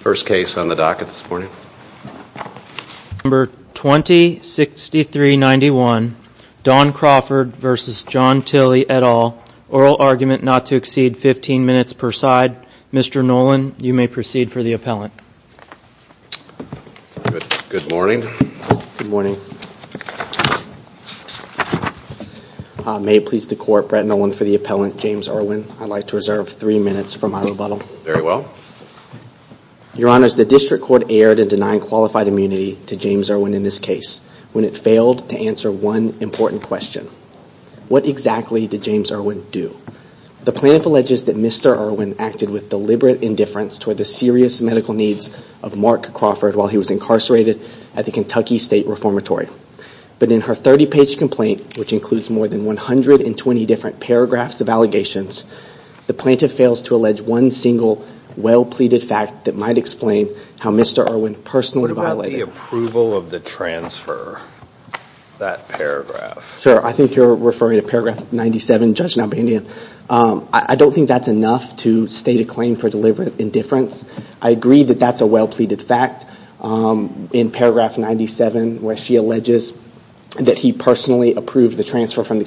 First case on the docket this morning. Number 206391, Don Crawford v. John Tilley, et al., oral argument not to exceed 15 minutes per side. Mr. Nolan, you may proceed for the appellant. Good morning. Good morning. May it please the court, Brett Nolan for the appellant, James Irwin, I'd like to reserve three minutes for my rebuttal. Very well. Your honors, the district court erred in denying qualified immunity to James Irwin in this case when it failed to answer one important question. What exactly did James Irwin do? The plaintiff alleges that Mr. Irwin acted with deliberate indifference toward the serious medical needs of Mark Crawford while he was incarcerated at the Kentucky State Reformatory. But in her 30-page complaint, which includes more than 120 different paragraphs of allegations, the plaintiff fails to allege one single well-pleaded fact that might explain how Mr. Irwin personally violated... What about the approval of the transfer? That paragraph. Sir, I think you're referring to paragraph 97, Judge Nalbandian. I don't think that's enough to state a claim for deliberate indifference. I agree that that's a well-pleaded fact. In paragraph 97, where she alleges that he personally approved the transfer from the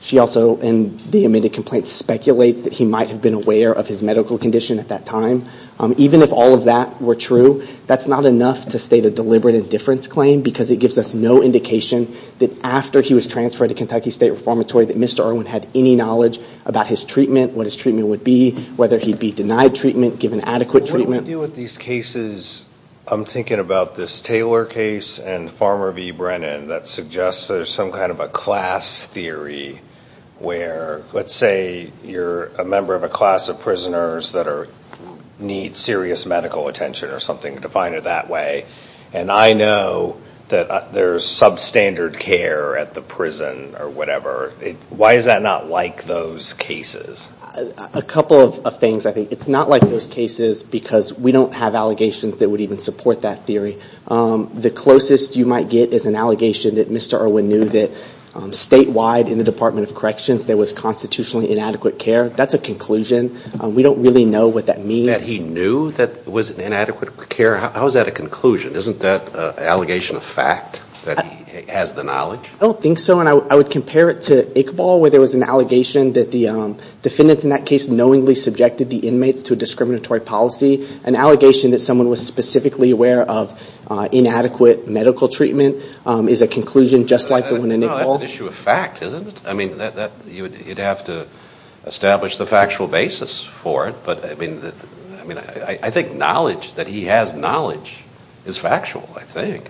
She also, in the amended complaint, speculates that he might have been aware of his medical condition at that time. Even if all of that were true, that's not enough to state a deliberate indifference claim because it gives us no indication that after he was transferred to Kentucky State Reformatory that Mr. Irwin had any knowledge about his treatment, what his treatment would be, whether he'd be denied treatment, given adequate treatment. What do we do with these cases? I'm thinking about this Taylor case and Farmer v. Brennan that suggests there's some kind of a class theory where, let's say, you're a member of a class of prisoners that need serious medical attention or something, define it that way, and I know that there's substandard care at the prison or whatever. Why is that not like those cases? A couple of things, I think. It's not like those cases because we don't have allegations that would even support that theory. The closest you might get is an allegation that Mr. Irwin knew that statewide in the Department of Corrections there was constitutionally inadequate care. That's a conclusion. We don't really know what that means. That he knew that there was inadequate care? How is that a conclusion? Isn't that an allegation of fact that he has the knowledge? I don't think so. And I would compare it to Iqbal where there was an allegation that the defendants in that case knowingly subjected the inmates to a discriminatory policy, an allegation that inadequate medical treatment is a conclusion just like the one in Iqbal. No, that's an issue of fact, isn't it? I mean, you'd have to establish the factual basis for it, but I mean, I think knowledge that he has knowledge is factual, I think.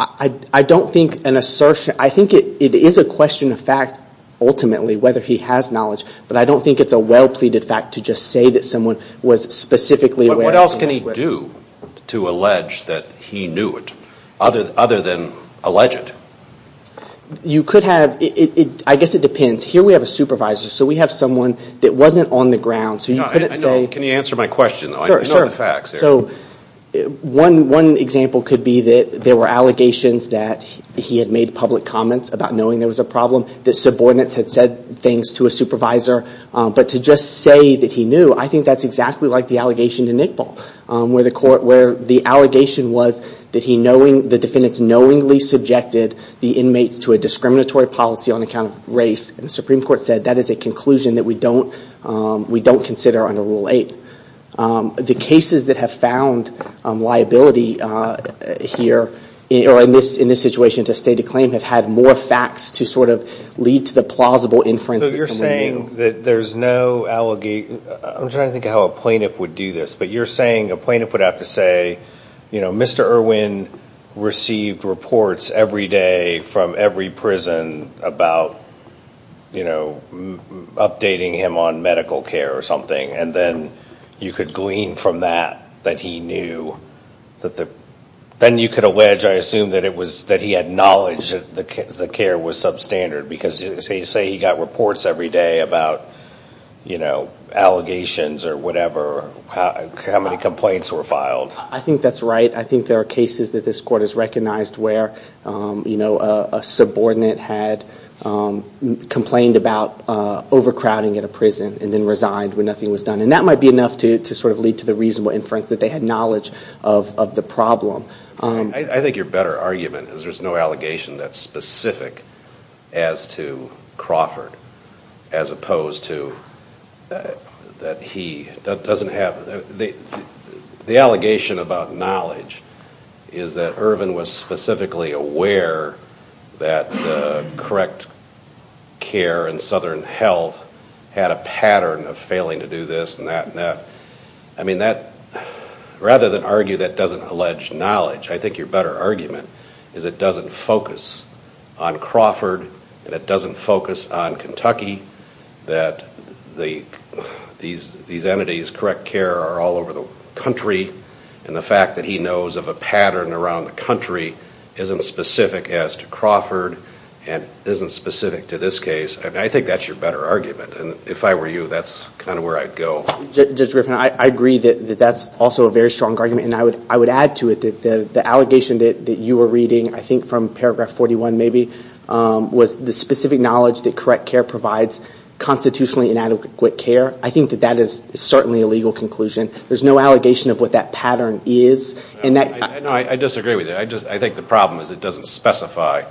I don't think an assertion, I think it is a question of fact ultimately whether he has knowledge, but I don't think it's a well-pleaded fact to just say that someone was specifically aware. What else can he do to allege that he knew it other than allege it? You could have, I guess it depends. Here we have a supervisor, so we have someone that wasn't on the ground, so you couldn't say... Can you answer my question? Sure, sure. I know the facts. So one example could be that there were allegations that he had made public comments about knowing there was a problem, that subordinates had said things to a supervisor, but to just say that he knew, I think that's exactly like the allegation to NICPOL, where the allegation was that the defendants knowingly subjected the inmates to a discriminatory policy on account of race, and the Supreme Court said that is a conclusion that we don't consider under Rule 8. The cases that have found liability here, or in this situation to state a claim, have had more facts to sort of lead to the plausible inference that someone knew. I'm trying to think of how a plaintiff would do this, but you're saying a plaintiff would have to say, Mr. Irwin received reports every day from every prison about updating him on medical care or something, and then you could glean from that that he knew. Then you could allege, I assume, that he had knowledge that the care was substandard, because you say he got reports every day about allegations or whatever, how many complaints were filed. I think that's right. I think there are cases that this court has recognized where a subordinate had complained about overcrowding at a prison, and then resigned when nothing was done, and that might be enough to sort of lead to the reasonable inference that they had knowledge of the problem. I think your better argument is there's no allegation that's specific as to Crawford, as opposed to that he doesn't have... The allegation about knowledge is that Irwin was specifically aware that the correct care in Southern Health had a pattern of failing to do this and that. I mean, rather than argue that doesn't allege knowledge, I think your better argument is it doesn't focus on Crawford, and it doesn't focus on Kentucky, that these entities, correct care, are all over the country, and the fact that he knows of a pattern around the country isn't specific as to Crawford and isn't specific to this case. I think that's your better argument, and if I were you, that's kind of where I'd go. Judge Griffin, I agree that that's also a very strong argument, and I would add to it that the allegation that you were reading, I think from paragraph 41 maybe, was the specific knowledge that correct care provides constitutionally inadequate care. I think that that is certainly a legal conclusion. There's no allegation of what that pattern is, and that... No, I disagree with you. I think the problem is it doesn't specify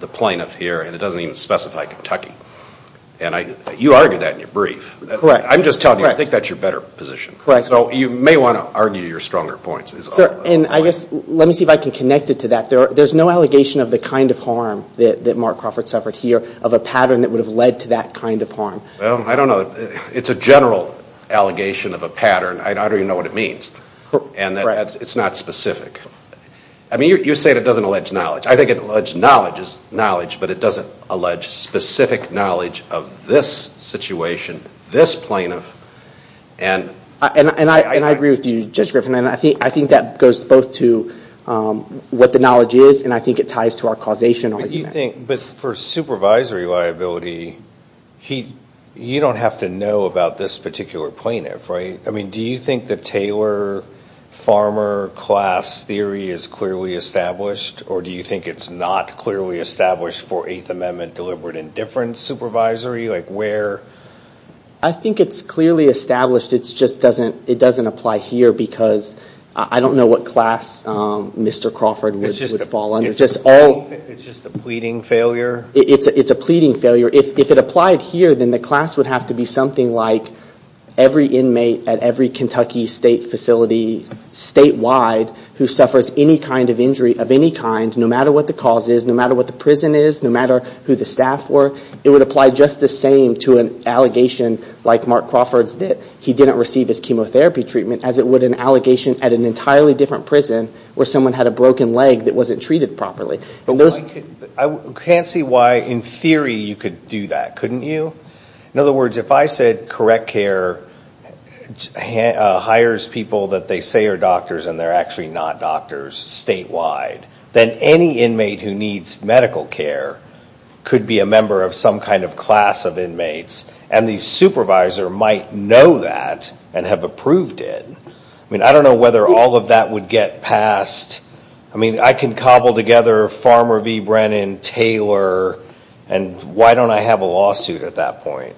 the plaintiff here, and it doesn't even specify Kentucky. You argued that in your brief. Correct. I'm just telling you, I think that's your better position. Correct. So, you may want to argue your stronger points. And I guess, let me see if I can connect it to that. There's no allegation of the kind of harm that Mark Crawford suffered here, of a pattern that would have led to that kind of harm. Well, I don't know. It's a general allegation of a pattern. I don't even know what it means, and it's not specific. I mean, you say it doesn't allege knowledge. I think it alleges knowledge, but it doesn't allege specific knowledge of this situation and this plaintiff, and... And I agree with you, Judge Griffin, and I think that goes both to what the knowledge is, and I think it ties to our causation argument. But you think, for supervisory liability, you don't have to know about this particular plaintiff, right? I mean, do you think the Taylor Farmer class theory is clearly established, or do you think it's not clearly established for Eighth Amendment deliberate indifference supervisory? Like, where? I think it's clearly established, it just doesn't apply here, because I don't know what class Mr. Crawford would fall under. It's just a pleading failure? It's a pleading failure. If it applied here, then the class would have to be something like, every inmate at every Kentucky state facility, statewide, who suffers any kind of injury of any kind, no matter what the cause is, no matter what the prison is, no matter who the staff were, it would apply just the same to an allegation, like Mark Crawford's did, he didn't receive his chemotherapy treatment, as it would an allegation at an entirely different prison, where someone had a broken leg that wasn't treated properly. I can't see why, in theory, you could do that, couldn't you? In other words, if I said correct care hires people that they say are doctors and they're actually not doctors, statewide, then any inmate who needs medical care could be a member of some kind of class of inmates, and the supervisor might know that and have approved it. I don't know whether all of that would get passed. I can cobble together Farmer v. Brennan, Taylor, and why don't I have a lawsuit at that point?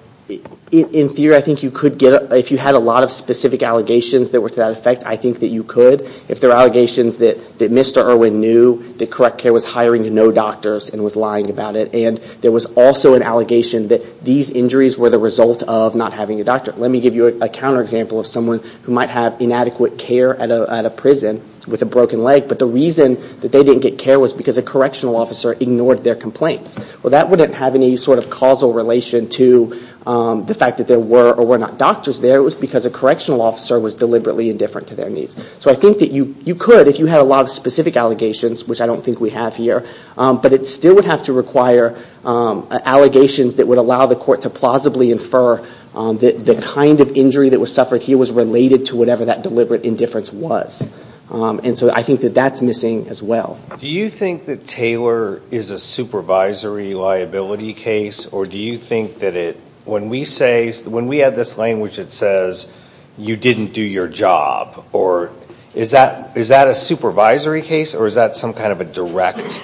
In theory, I think you could get it. If you had a lot of specific allegations that were to that effect, I think that you could. If there are allegations that Mr. Irwin knew that correct care was hiring no doctors and was lying about it, and there was also an allegation that these injuries were the result of not having a doctor. Let me give you a counterexample of someone who might have inadequate care at a prison with a broken leg, but the reason that they didn't get care was because a correctional officer ignored their complaints. Well, that wouldn't have any sort of causal relation to the fact that there were or were not doctors there. It was because a correctional officer was deliberately indifferent to their needs. So I think that you could, if you had a lot of specific allegations, which I don't think we have here, but it still would have to require allegations that would allow the court to plausibly infer that the kind of injury that was suffered here was related to whatever that deliberate indifference was. And so I think that that's missing as well. Do you think that Taylor is a supervisory liability case, or do you think that it, when we say, when we have this language that says, you didn't do your job, or is that a supervisory case, or is that some kind of a direct case?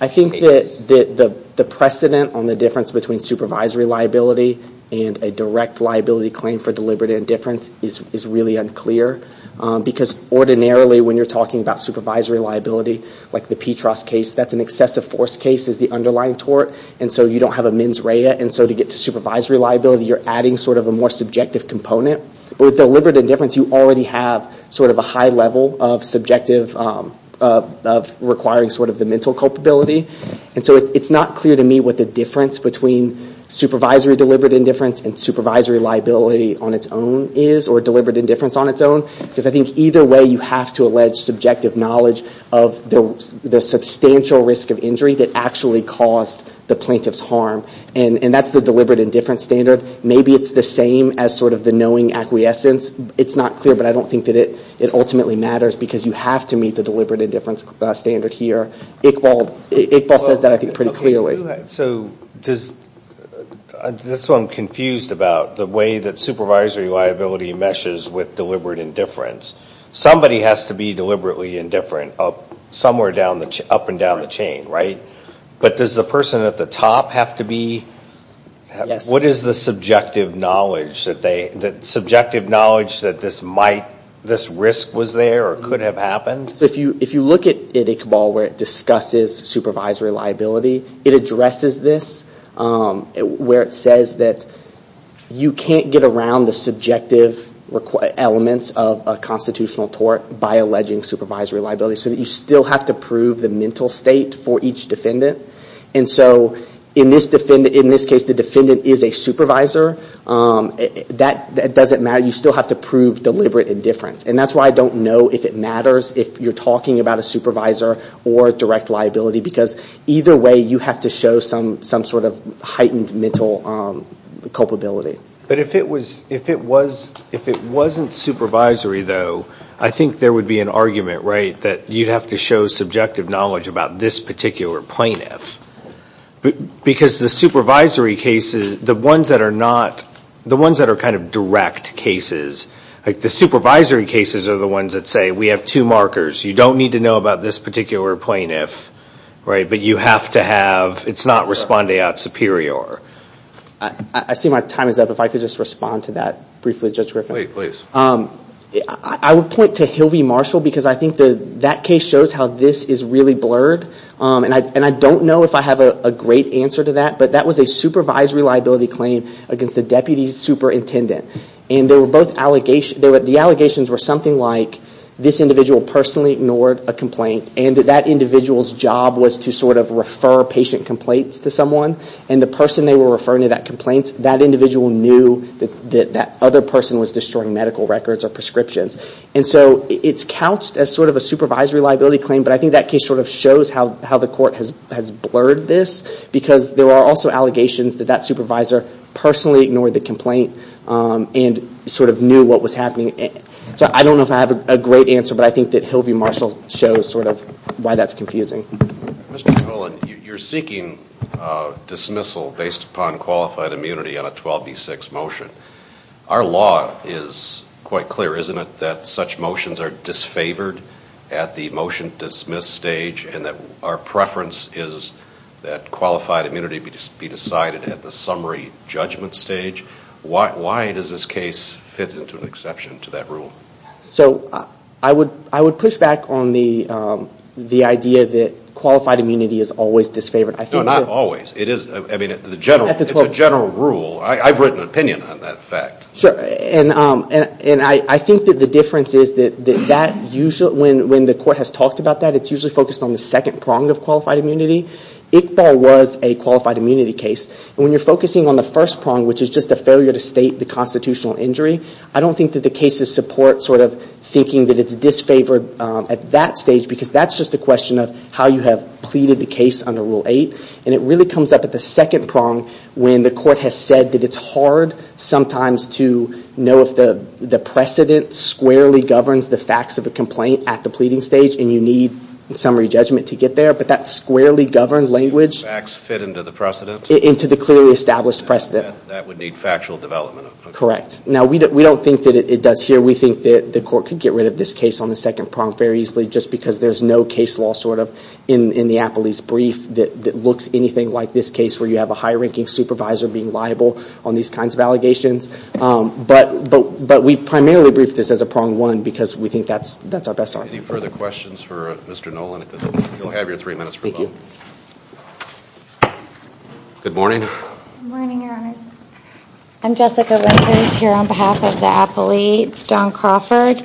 I think that the precedent on the difference between supervisory liability and a direct liability claim for deliberate indifference is really unclear. Because ordinarily, when you're talking about supervisory liability, like the Petras case, that's an excessive force case, is the underlying tort, and so you don't have a mens rea. And so to get to supervisory liability, you're adding sort of a more subjective component. But with deliberate indifference, you already have sort of a high level of subjective, of requiring sort of the mental culpability. And so it's not clear to me what the difference between supervisory deliberate indifference and supervisory liability on its own is, or deliberate indifference on its own, because I think either way, you have to allege subjective knowledge of the substantial risk of injury that actually caused the plaintiff's harm. And that's the deliberate indifference standard. Maybe it's the same as sort of the knowing acquiescence. It's not clear, but I don't think that it ultimately matters, because you have to meet the deliberate indifference standard here. Iqbal says that, I think, pretty clearly. So this is what I'm confused about, the way that supervisory liability meshes with deliberate indifference. Somebody has to be deliberately indifferent, somewhere up and down the chain, right? But does the person at the top have to be? What is the subjective knowledge that this risk was there or could have happened? If you look at Iqbal, where it discusses supervisory liability, it addresses this, where it says that you can't get around the subjective elements of a constitutional tort by alleging supervisory liability, so that you still have to prove the mental state for each defendant. And so in this case, the defendant is a supervisor. That doesn't matter. You still have to prove deliberate indifference. And that's why I don't know if it matters if you're talking about a supervisor or direct liability, because either way, you have to show some sort of heightened mental culpability. But if it wasn't supervisory, though, I think there would be an argument, right, that you'd have to show subjective knowledge about this particular plaintiff. Because the supervisory cases, the ones that are not, the ones that are kind of direct cases, like the supervisory cases are the ones that say, we have two markers. You don't need to know about this particular plaintiff, right, but you have to have, it's not respondeat superior. I see my time is up. If I could just respond to that briefly, Judge Griffin. Please. I would point to Hilvey Marshall, because I think that case shows how this is really blurred. And I don't know if I have a great answer to that, but that was a supervisory liability claim against the deputy superintendent. And they were both allegations, the allegations were something like this individual personally ignored a complaint, and that that individual's job was to sort of refer patient complaints to someone. And the person they were referring to that complaint, that individual knew that that other person was destroying medical records or prescriptions. And so it's couched as sort of a supervisory liability claim, but I think that case sort of shows how the court has blurred this, because there are also allegations that that supervisor personally ignored the complaint and sort of knew what was happening. So I don't know if I have a great answer, but I think that Hilvey Marshall shows sort of why that's confusing. Mr. Cullen, you're seeking dismissal based upon qualified immunity on a 12B6 motion. Our law is quite clear, isn't it, that such motions are disfavored at the motion dismiss stage and that our preference is that qualified immunity be decided at the summary judgment stage? Why does this case fit into an exception to that rule? So I would push back on the idea that qualified immunity is always disfavored. No, not always. It is, I mean, it's a general rule. I've written an opinion on that fact. Sure, and I think that the difference is that when the court has talked about that, it's usually focused on the second prong of qualified immunity. Iqbal was a qualified immunity case, and when you're focusing on the first prong, which is just a failure to state the constitutional injury, I don't think that the cases support sort of thinking that it's disfavored at that stage, because that's just a question of how you have pleaded the case under Rule 8, and it really comes up at the second prong when the court has said that it's hard sometimes to know if the precedent squarely governs the facts of a complaint at the pleading stage, and you need summary judgment to get there, but that squarely governed language... Facts fit into the precedent? Into the clearly established precedent. That would need factual development. Correct. Now, we don't think that it does here. We think that the court could get rid of this case on the second prong very easily just because there's no case law, sort of, in the Appley's brief that looks anything like this with the supervisor being liable on these kinds of allegations, but we primarily briefed this as a prong one because we think that's our best argument. Any further questions for Mr. Nolan? You'll have your three minutes for a moment. Thank you. Good morning. Good morning, Your Honors. I'm Jessica Winters here on behalf of the Appley Don Crawford,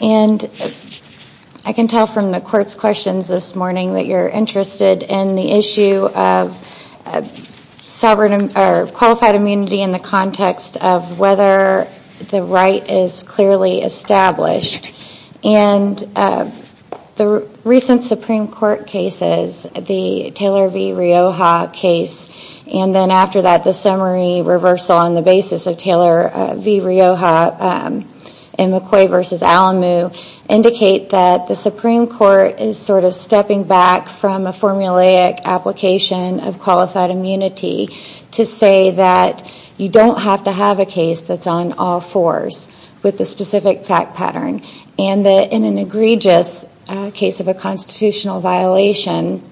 and I can tell from the Qualified Immunity in the context of whether the right is clearly established, and the recent Supreme Court cases, the Taylor v. Rioja case, and then after that, the summary reversal on the basis of Taylor v. Rioja and McCoy v. Alamu, indicate that the Supreme Court has to say that you don't have to have a case that's on all fours with the specific fact pattern, and that in an egregious case of a constitutional violation,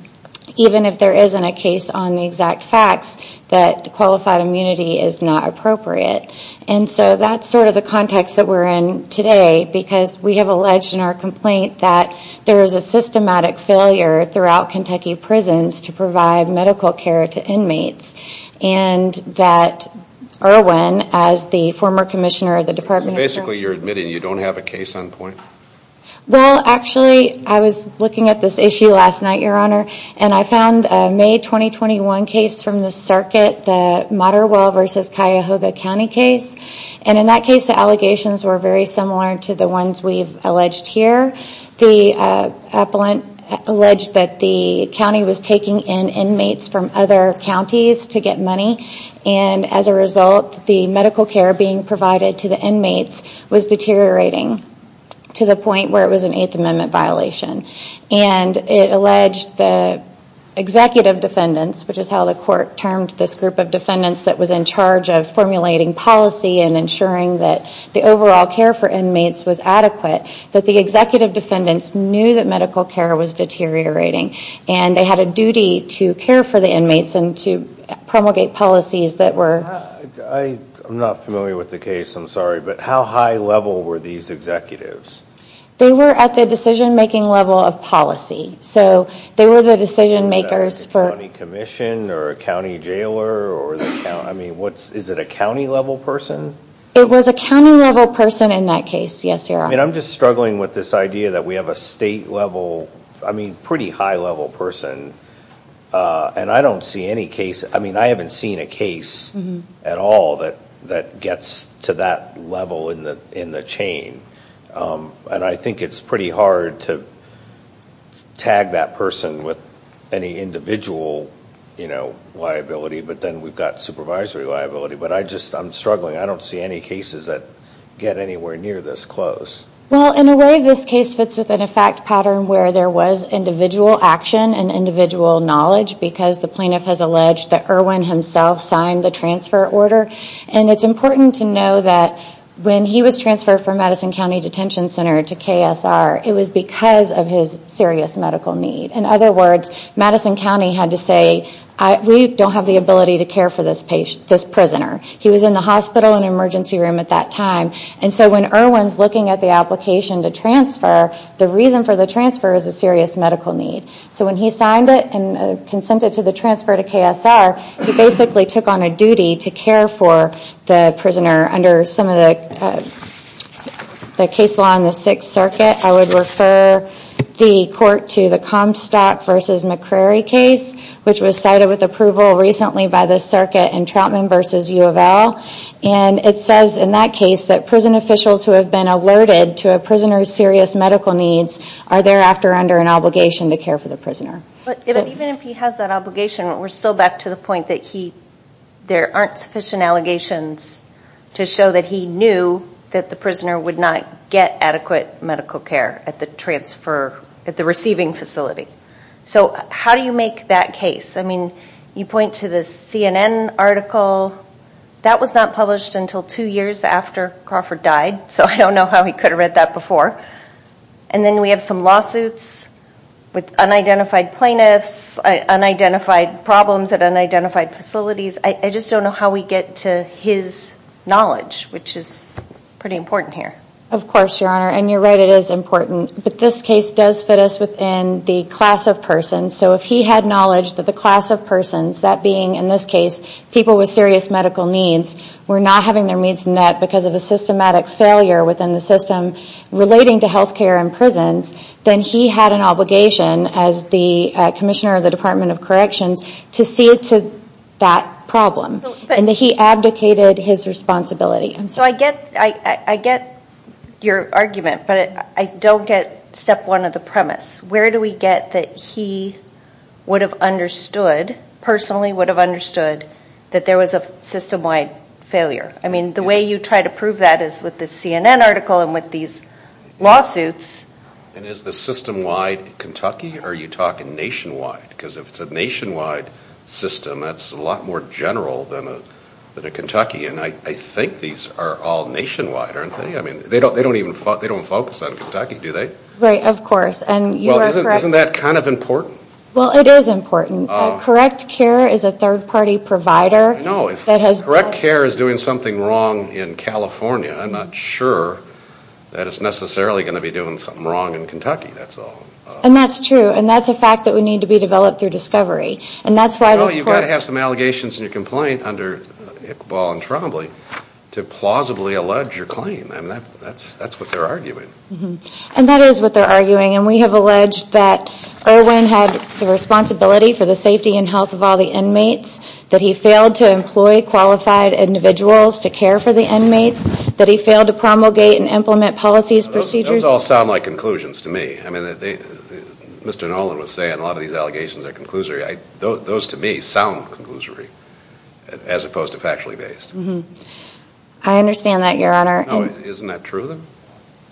even if there isn't a case on the exact facts, that Qualified Immunity is not appropriate. And so that's sort of the context that we're in today because we have alleged in our complaint that there is a systematic failure throughout Kentucky prisons to provide medical care to inmates, and that Erwin, as the former commissioner of the Department of... Basically, you're admitting you don't have a case on point? Well, actually, I was looking at this issue last night, Your Honor, and I found a May 2021 case from the circuit, the Motterwell v. Cuyahoga County case, and in that case, the allegations were very similar to the ones we've alleged here. The appellant alleged that the county was taking in inmates from other counties to get money, and as a result, the medical care being provided to the inmates was deteriorating to the point where it was an Eighth Amendment violation. And it alleged the executive defendants, which is how the court termed this group of defendants that was in charge of formulating policy and ensuring that the overall care for inmates was adequate, that the executive defendants knew that medical care was deteriorating, and they had a duty to care for the inmates and to promulgate policies that were... I'm not familiar with the case. I'm sorry. But how high level were these executives? They were at the decision-making level of policy. So they were the decision-makers for... Was that a county commission or a county jailer? I mean, is it a county-level person? It was a county-level person in that case, yes, Your Honor. I mean, I'm just struggling with this idea that we have a state-level... I mean, pretty high-level person, and I don't see any case... I mean, I haven't seen a case at all that gets to that level in the chain. And I think it's pretty hard to tag that person with any individual liability, but then we've got supervisory liability. But I just... I'm struggling. I don't see any cases that get anywhere near this close. Well, in a way, this case fits within a fact pattern where there was individual action and individual knowledge, because the plaintiff has alleged that Irwin himself signed the transfer order. And it's important to know that when he was transferred from Madison County Detention Center to KSR, it was because of his serious medical need. In other words, Madison County had to say, we don't have the ability to care for this prisoner. He was in the hospital and emergency room at that time. And so when Irwin's looking at the application to transfer, the reason for the transfer is a serious medical need. So when he signed it and consented to the transfer to KSR, he basically took on a duty to care for the prisoner under some of the case law in the Sixth Circuit. I would refer the court to the Comstock v. McCrary case, which was cited with approval recently by the circuit in Troutman v. UofL. And it says in that case that prison officials who have been alerted to a prisoner's serious medical needs are thereafter under an obligation to care for the prisoner. But even if he has that obligation, we're still back to the point that there aren't sufficient allegations to show that he knew that the prisoner would not get adequate medical care at the receiving facility. So how do you make that case? I mean, you point to the CNN article. That was not published until two years after Crawford died. So I don't know how he could have read that before. And then we have some lawsuits with unidentified plaintiffs, unidentified problems at unidentified facilities. I just don't know how we get to his knowledge, which is pretty important here. Of course, Your Honor. And you're right, it is important. But this case does fit us within the class of persons. So if he had knowledge that the class of persons, that being, in this case, people with serious medical needs, were not having their needs met because of a systematic failure within the system relating to health care and prisons, then he had an obligation as the commissioner of the Department of Corrections to see to that problem. And he abdicated his responsibility. So I get your argument, but I don't get step one of the premise. Where do we get that he would have understood, personally would have understood, that there was a system-wide failure? I mean, the way you try to prove that is with the CNN article and with these lawsuits. And is the system-wide Kentucky or are you talking nationwide? Because if it's a nationwide system, that's a lot more general than a Kentucky. And I think these are all nationwide, aren't they? I mean, they don't even focus on Kentucky, do they? Right, of course. And you are correct. Well, isn't that kind of important? Well, it is important. CorrectCare is a third-party provider. I know. If CorrectCare is doing something wrong in California, I'm not sure that it's necessarily going to be doing something wrong in Kentucky, that's all. And that's true. And that's a fact that would need to be developed through discovery. You know, you've got to have some allegations in your complaint under Iqbal and Trombley to plausibly allege your claim. I mean, that's what they're arguing. And that is what they're arguing. And we have alleged that Irwin had the responsibility for the safety and health of all the inmates, that he failed to employ qualified individuals to care for the inmates, that he failed to promulgate and implement policies, procedures. Those all sound like conclusions to me. I mean, Mr. Nolan was saying a lot of these allegations are conclusory. Those, to me, sound conclusory as opposed to factually based. I understand that, Your Honor.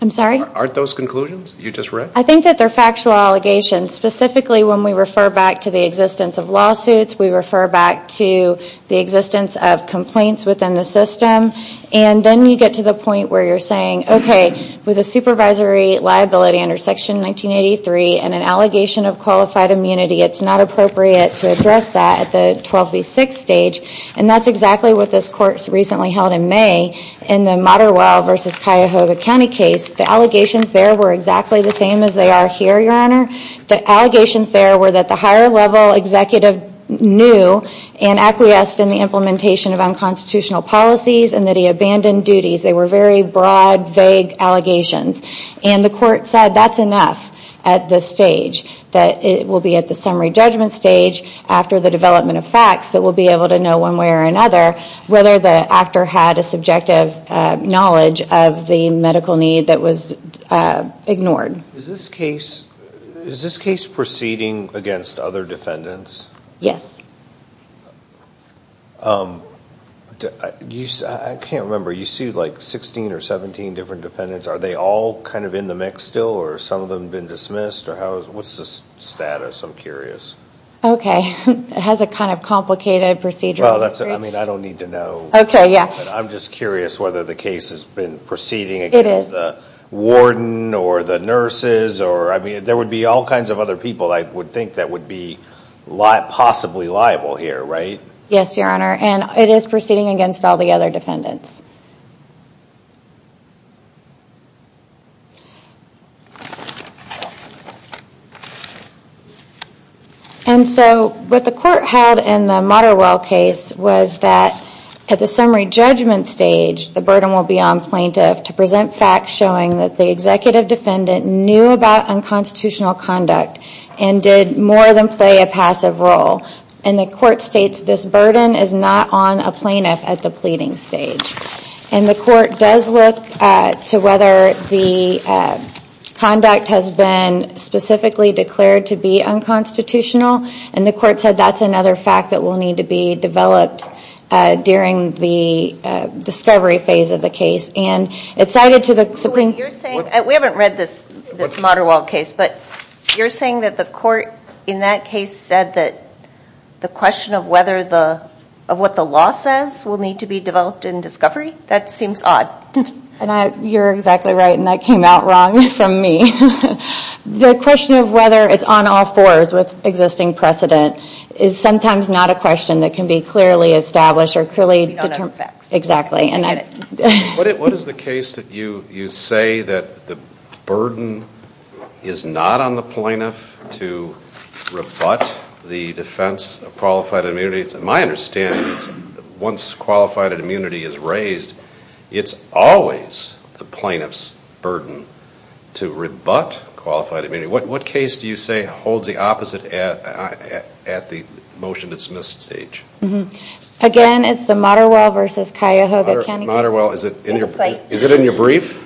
Aren't those conclusions you just read? I think that they're factual allegations. Specifically, when we refer back to the existence of lawsuits, we refer back to the existence of complaints within the system. And then you get to the point where you're saying, OK, with a supervisory liability under Section 1983 and an allegation of qualified immunity, it's not appropriate to address that at the 12 v. 6 stage. And that's exactly what this Court recently held in May in the Motterwell v. Cuyahoga County case. The allegations there were exactly the same as they are here, Your Honor. The allegations there were that the higher level executive knew and acquiesced in the implementation of unconstitutional policies and that he abandoned duties. They were very broad, vague allegations. And the Court said that's enough at this stage, that it will be at the summary judgment stage after the development of facts that we'll be able to know one way or another whether the actor had a subjective knowledge of the medical need that was ignored. Is this case proceeding against other defendants? Yes. I can't remember. You sued like 16 or 17 different defendants. Are they all kind of in the mix still? Or have some of them been dismissed? What's the status? I'm curious. OK. It has a kind of complicated procedural history. I don't need to know. I'm just curious whether the case has been proceeding against the warden or the nurses. There would be all kinds of other people I would think that would be possibly liable here, right? Yes, Your Honor. And it is proceeding against all the other defendants. And so what the Court held in the Motterwell case was that at the summary judgment stage, the burden will be on plaintiff to present facts showing that the defendant knew about unconstitutional conduct and did more than play a passive role. And the Court states this burden is not on a plaintiff at the pleading stage. And the Court does look to whether the conduct has been specifically declared to be unconstitutional. And the Court said that's another fact that will need to be developed during the discovery phase of the case. We haven't read this Motterwell case. But you're saying that the Court in that case said that the question of whether what the law says will need to be developed in discovery? That seems odd. You're exactly right. And that came out wrong from me. The question of whether it's on all fours with existing precedent is sometimes not a question that can be answered. What is the case that you say that the burden is not on the plaintiff to rebut the defense of qualified immunity? To my understanding, once qualified immunity is raised, it's always the plaintiff's burden to rebut qualified immunity. What case do you say holds the opposite at the motion to dismiss stage? Again, it's the Motterwell v. Cuyahoga County case. Is it in your brief?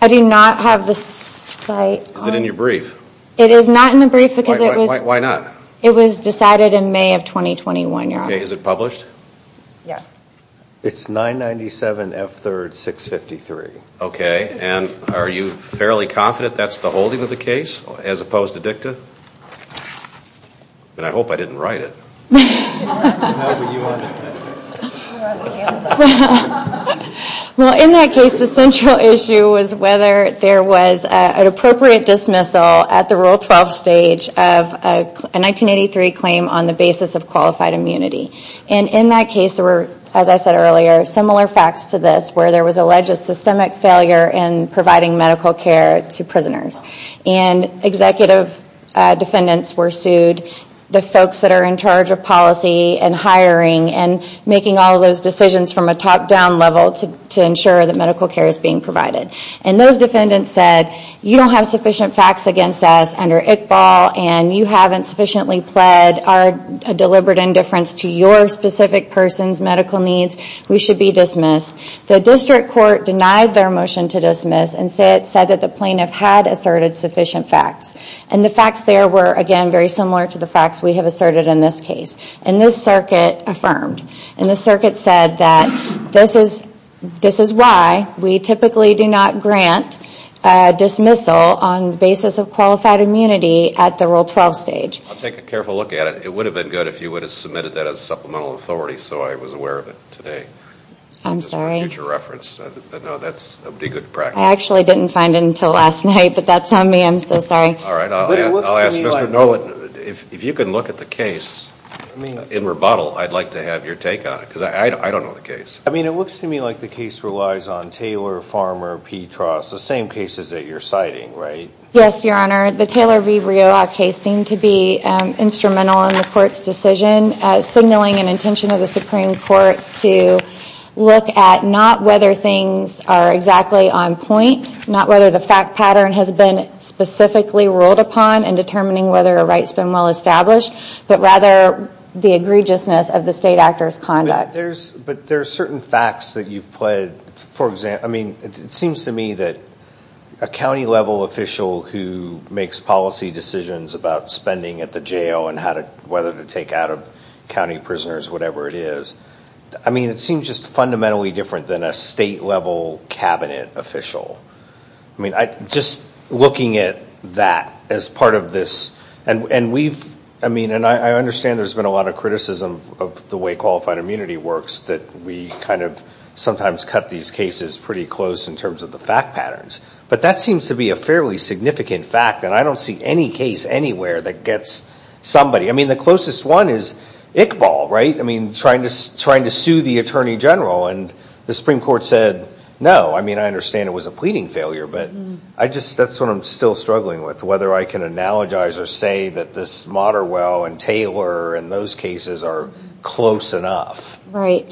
I do not have the site. Is it in your brief? It is not in the brief. Why not? It was decided in May of 2021, Your Honor. Is it published? Yes. It's 997 F3rd 653. Okay. And are you fairly confident that's the holding of the case as opposed to dicta? And I hope I didn't write it. Well, in that case, the central issue was whether there was an appropriate dismissal at the Rule 12 stage of a 1983 claim on the basis of qualified immunity. And in that case, there were, as I said earlier, similar facts to this where there was alleged a systemic failure in providing medical care to prisoners. And executive defendants were sued. The folks that are in charge of policy and hiring and making all of those decisions from a top-down level to ensure that medical care is being provided. And those defendants said, you don't have sufficient facts against us under ICBAL, and you haven't sufficiently pled our deliberate indifference to your specific person's medical needs. We should be dismissed. The district court denied their motion to dismiss and said that the plaintiff had asserted sufficient facts. And the facts there were, again, very similar to the facts we have asserted in this case. And this circuit affirmed. And this circuit said that this is why we typically do not grant dismissal on the basis of qualified immunity at the Rule 12 stage. I'll take a careful look at it. It would have been good if you would have submitted that as supplemental authority. So I was aware of it today. I'm sorry. I actually didn't find it until last night. But that's on me. I'm so sorry. If you can look at the case in rebuttal, I'd like to have your take on it. Because I don't know the case. I mean, it looks to me like the case relies on Taylor, Farmer, Petras. The same cases that you're citing, right? Yes, Your Honor. The Taylor v. Riolla case seemed to be instrumental in the court's decision, signaling an intention of the Supreme Court to look at not whether things are exactly on point, not whether the fact pattern has been specifically ruled upon in determining whether a right's been well established, but rather the egregiousness of the state actor's conduct. But there are certain facts that you've played. It seems to me that a county-level official who makes policy decisions about spending at the jail and whether to take out county prisoners, whatever it is, it seems just fundamentally different than a state-level Cabinet official. Just looking at that as part of this... I mean, and I understand there's been a lot of criticism of the way qualified immunity works that we kind of sometimes cut these cases pretty close in terms of the fact patterns. But that seems to be a fairly significant fact, and I don't see any case anywhere that gets somebody... I mean, the closest one is Iqbal, right? I mean, trying to sue the Attorney General, and the Supreme Court said no. I mean, I understand it was a pleading failure, but that's what I'm still struggling with, whether I can analogize or say that this Moderwell and Taylor and those cases are close enough. Right.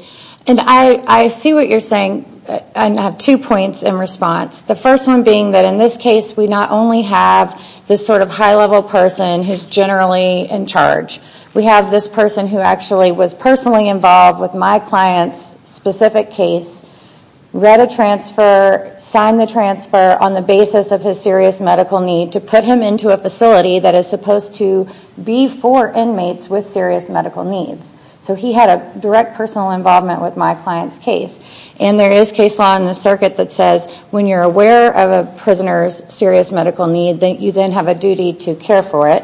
And I see what you're saying, and I have two points in response. The first one being that in this case we not only have this sort of high-level person who's generally in charge. We have this person who actually was personally involved with my client's specific case, read a transfer, signed the transfer on the basis of his serious medical need to put him into a facility that is supposed to be for inmates with serious medical needs. So he had a direct personal involvement with my client's case. And there is case law in the circuit that says when you're aware of a prisoner's serious medical need that you then have a duty to care for it.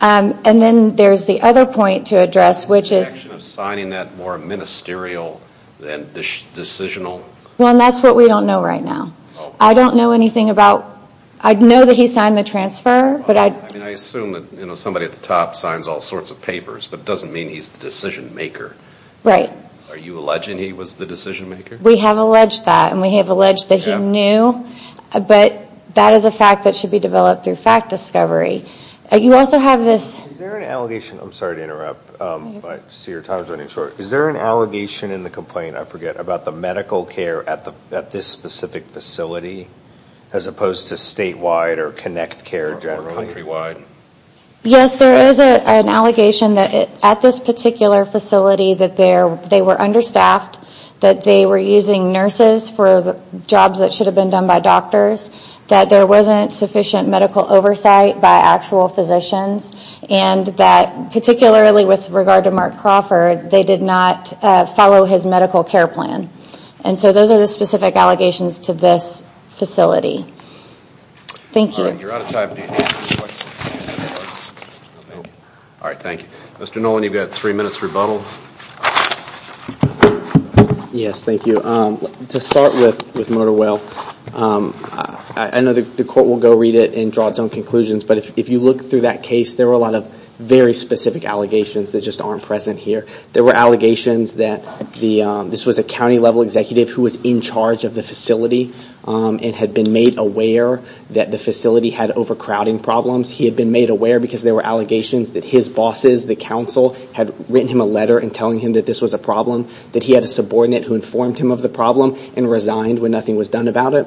And then there's the other point to address, which is... Well, and that's what we don't know right now. I know that he signed the transfer, but I... I mean, I assume that somebody at the top signs all sorts of papers, but it doesn't mean he's the decision maker. Right. Are you alleging he was the decision maker? We have alleged that, and we have alleged that he knew, but that is a fact that should be developed through fact discovery. You also have this... Is there an allegation in the complaint, I forget, about the medical care at this specific facility, as opposed to statewide or connect care generally? Yes, there is an allegation that at this particular facility that they were understaffed, that they were using nurses for jobs that should have been done by doctors, that there wasn't sufficient medical oversight by actual physicians, and that particularly with regard to Mark Crawford, they did not follow his medical care plan. And so those are the specific allegations to this facility. Thank you. All right, thank you. Mr. Nolan, you've got three minutes rebuttal. Yes, thank you. To start with, with Motorwell, I know the court will go read it and draw its own conclusions, but if you look through that case, there were a lot of very specific allegations that just aren't present here. There were allegations that this was a county-level executive who was in charge of the facility and had been made aware that the facility had overcrowding problems. He had been made aware because there were allegations that his bosses, the council, had written him a letter and telling him that this was a problem, that he had a subordinate who informed him of the problem and resigned when nothing was done about it.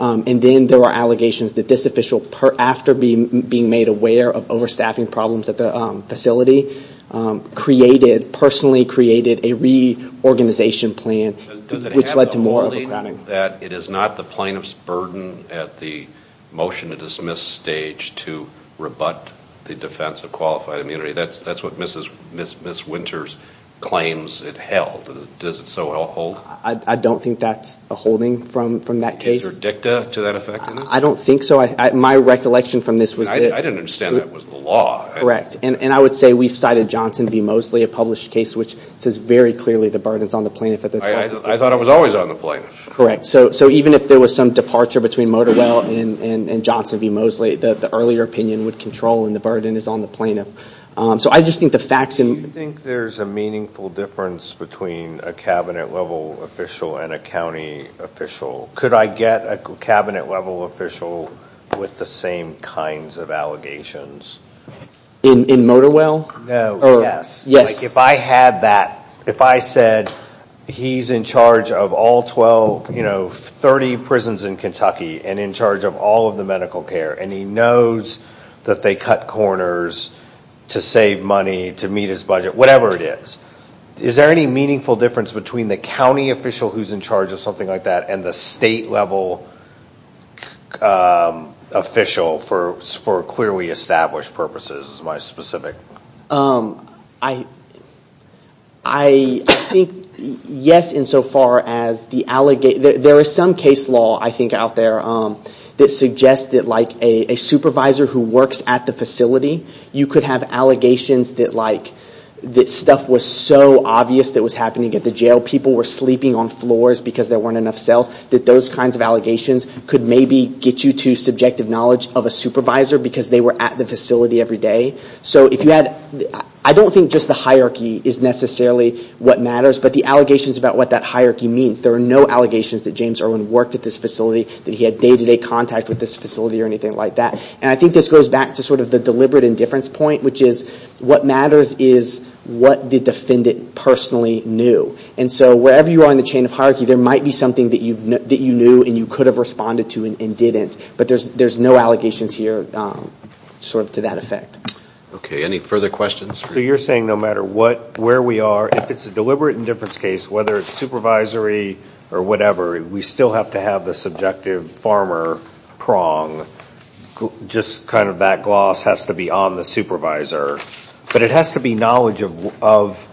And then there were allegations that this official, after being made aware of overstaffing problems at the facility, personally created a reorganization plan, which led to more overcrowding. Does it have the wording that it is not the plaintiff's burden at the motion-to-dismiss stage to rebut the defense of qualified immunity? That's what Ms. Winters claims it held. Does it so hold? I don't think that's a holding from that case. Is there a dicta to that effectiveness? I don't think so. My recollection from this was that... I didn't understand that was the law. Correct. And I would say we've cited Johnson v. Mosley, a published case which says very clearly the burden is on the plaintiff at the time of dismissal. I thought it was always on the plaintiff. Correct. So even if there was some departure between a cabinet-level official and a county official, could I get a cabinet-level official with the same kinds of allegations? In Motorwell? No. Yes. If I had that, if I said he's in charge of all 12, 30 prisons in Kentucky and in charge of all of the medical care, and he knows that they cut corners to save money, to meet his budget, whatever it is, is there any meaningful difference between the county official who's in charge of something like that and the state-level official for clearly established purposes, is my specific... I think yes, insofar as the allegations... There is some case law, I think, out there that suggests that a supervisor who works at the facility, you could have allegations that stuff was so obvious that was happening at the jail, people were sleeping on floors because there weren't enough cells, that those kinds of allegations could maybe get you to subjective knowledge of a supervisor because they were at the facility every day. I don't think just the hierarchy is necessarily what matters, but the allegations about what that hierarchy means. There are no allegations that James Irwin worked at this facility, that he had day-to-day contact with this facility or anything like that. And I think this goes back to sort of the deliberate indifference point, which is what matters is what the defendant personally knew. And so wherever you are in the chain of hierarchy, there might be something that you knew and you could have responded to and didn't, but there's no allegations here sort of to that effect. You're saying no matter where we are, if it's a deliberate indifference case, whether it's supervisory or whatever, we still have to have the subjective farmer prong, just kind of that gloss has to be on the supervisor. But it has to be knowledge of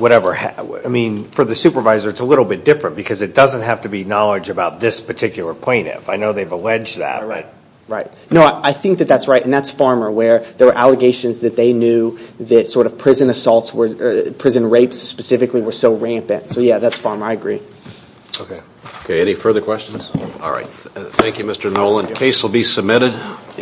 whatever. I mean, for the supervisor, it's a little bit different because it doesn't have to be knowledge about this particular plaintiff. I know they've alleged that. No, I think that that's right, and that's farmer, where there were allegations that they knew that prison assaults, prison rapes specifically, were so rampant. So yeah, that's farmer. I agree. Okay. Any further questions? All right. Thank you, Mr. Nolan. Case will be submitted.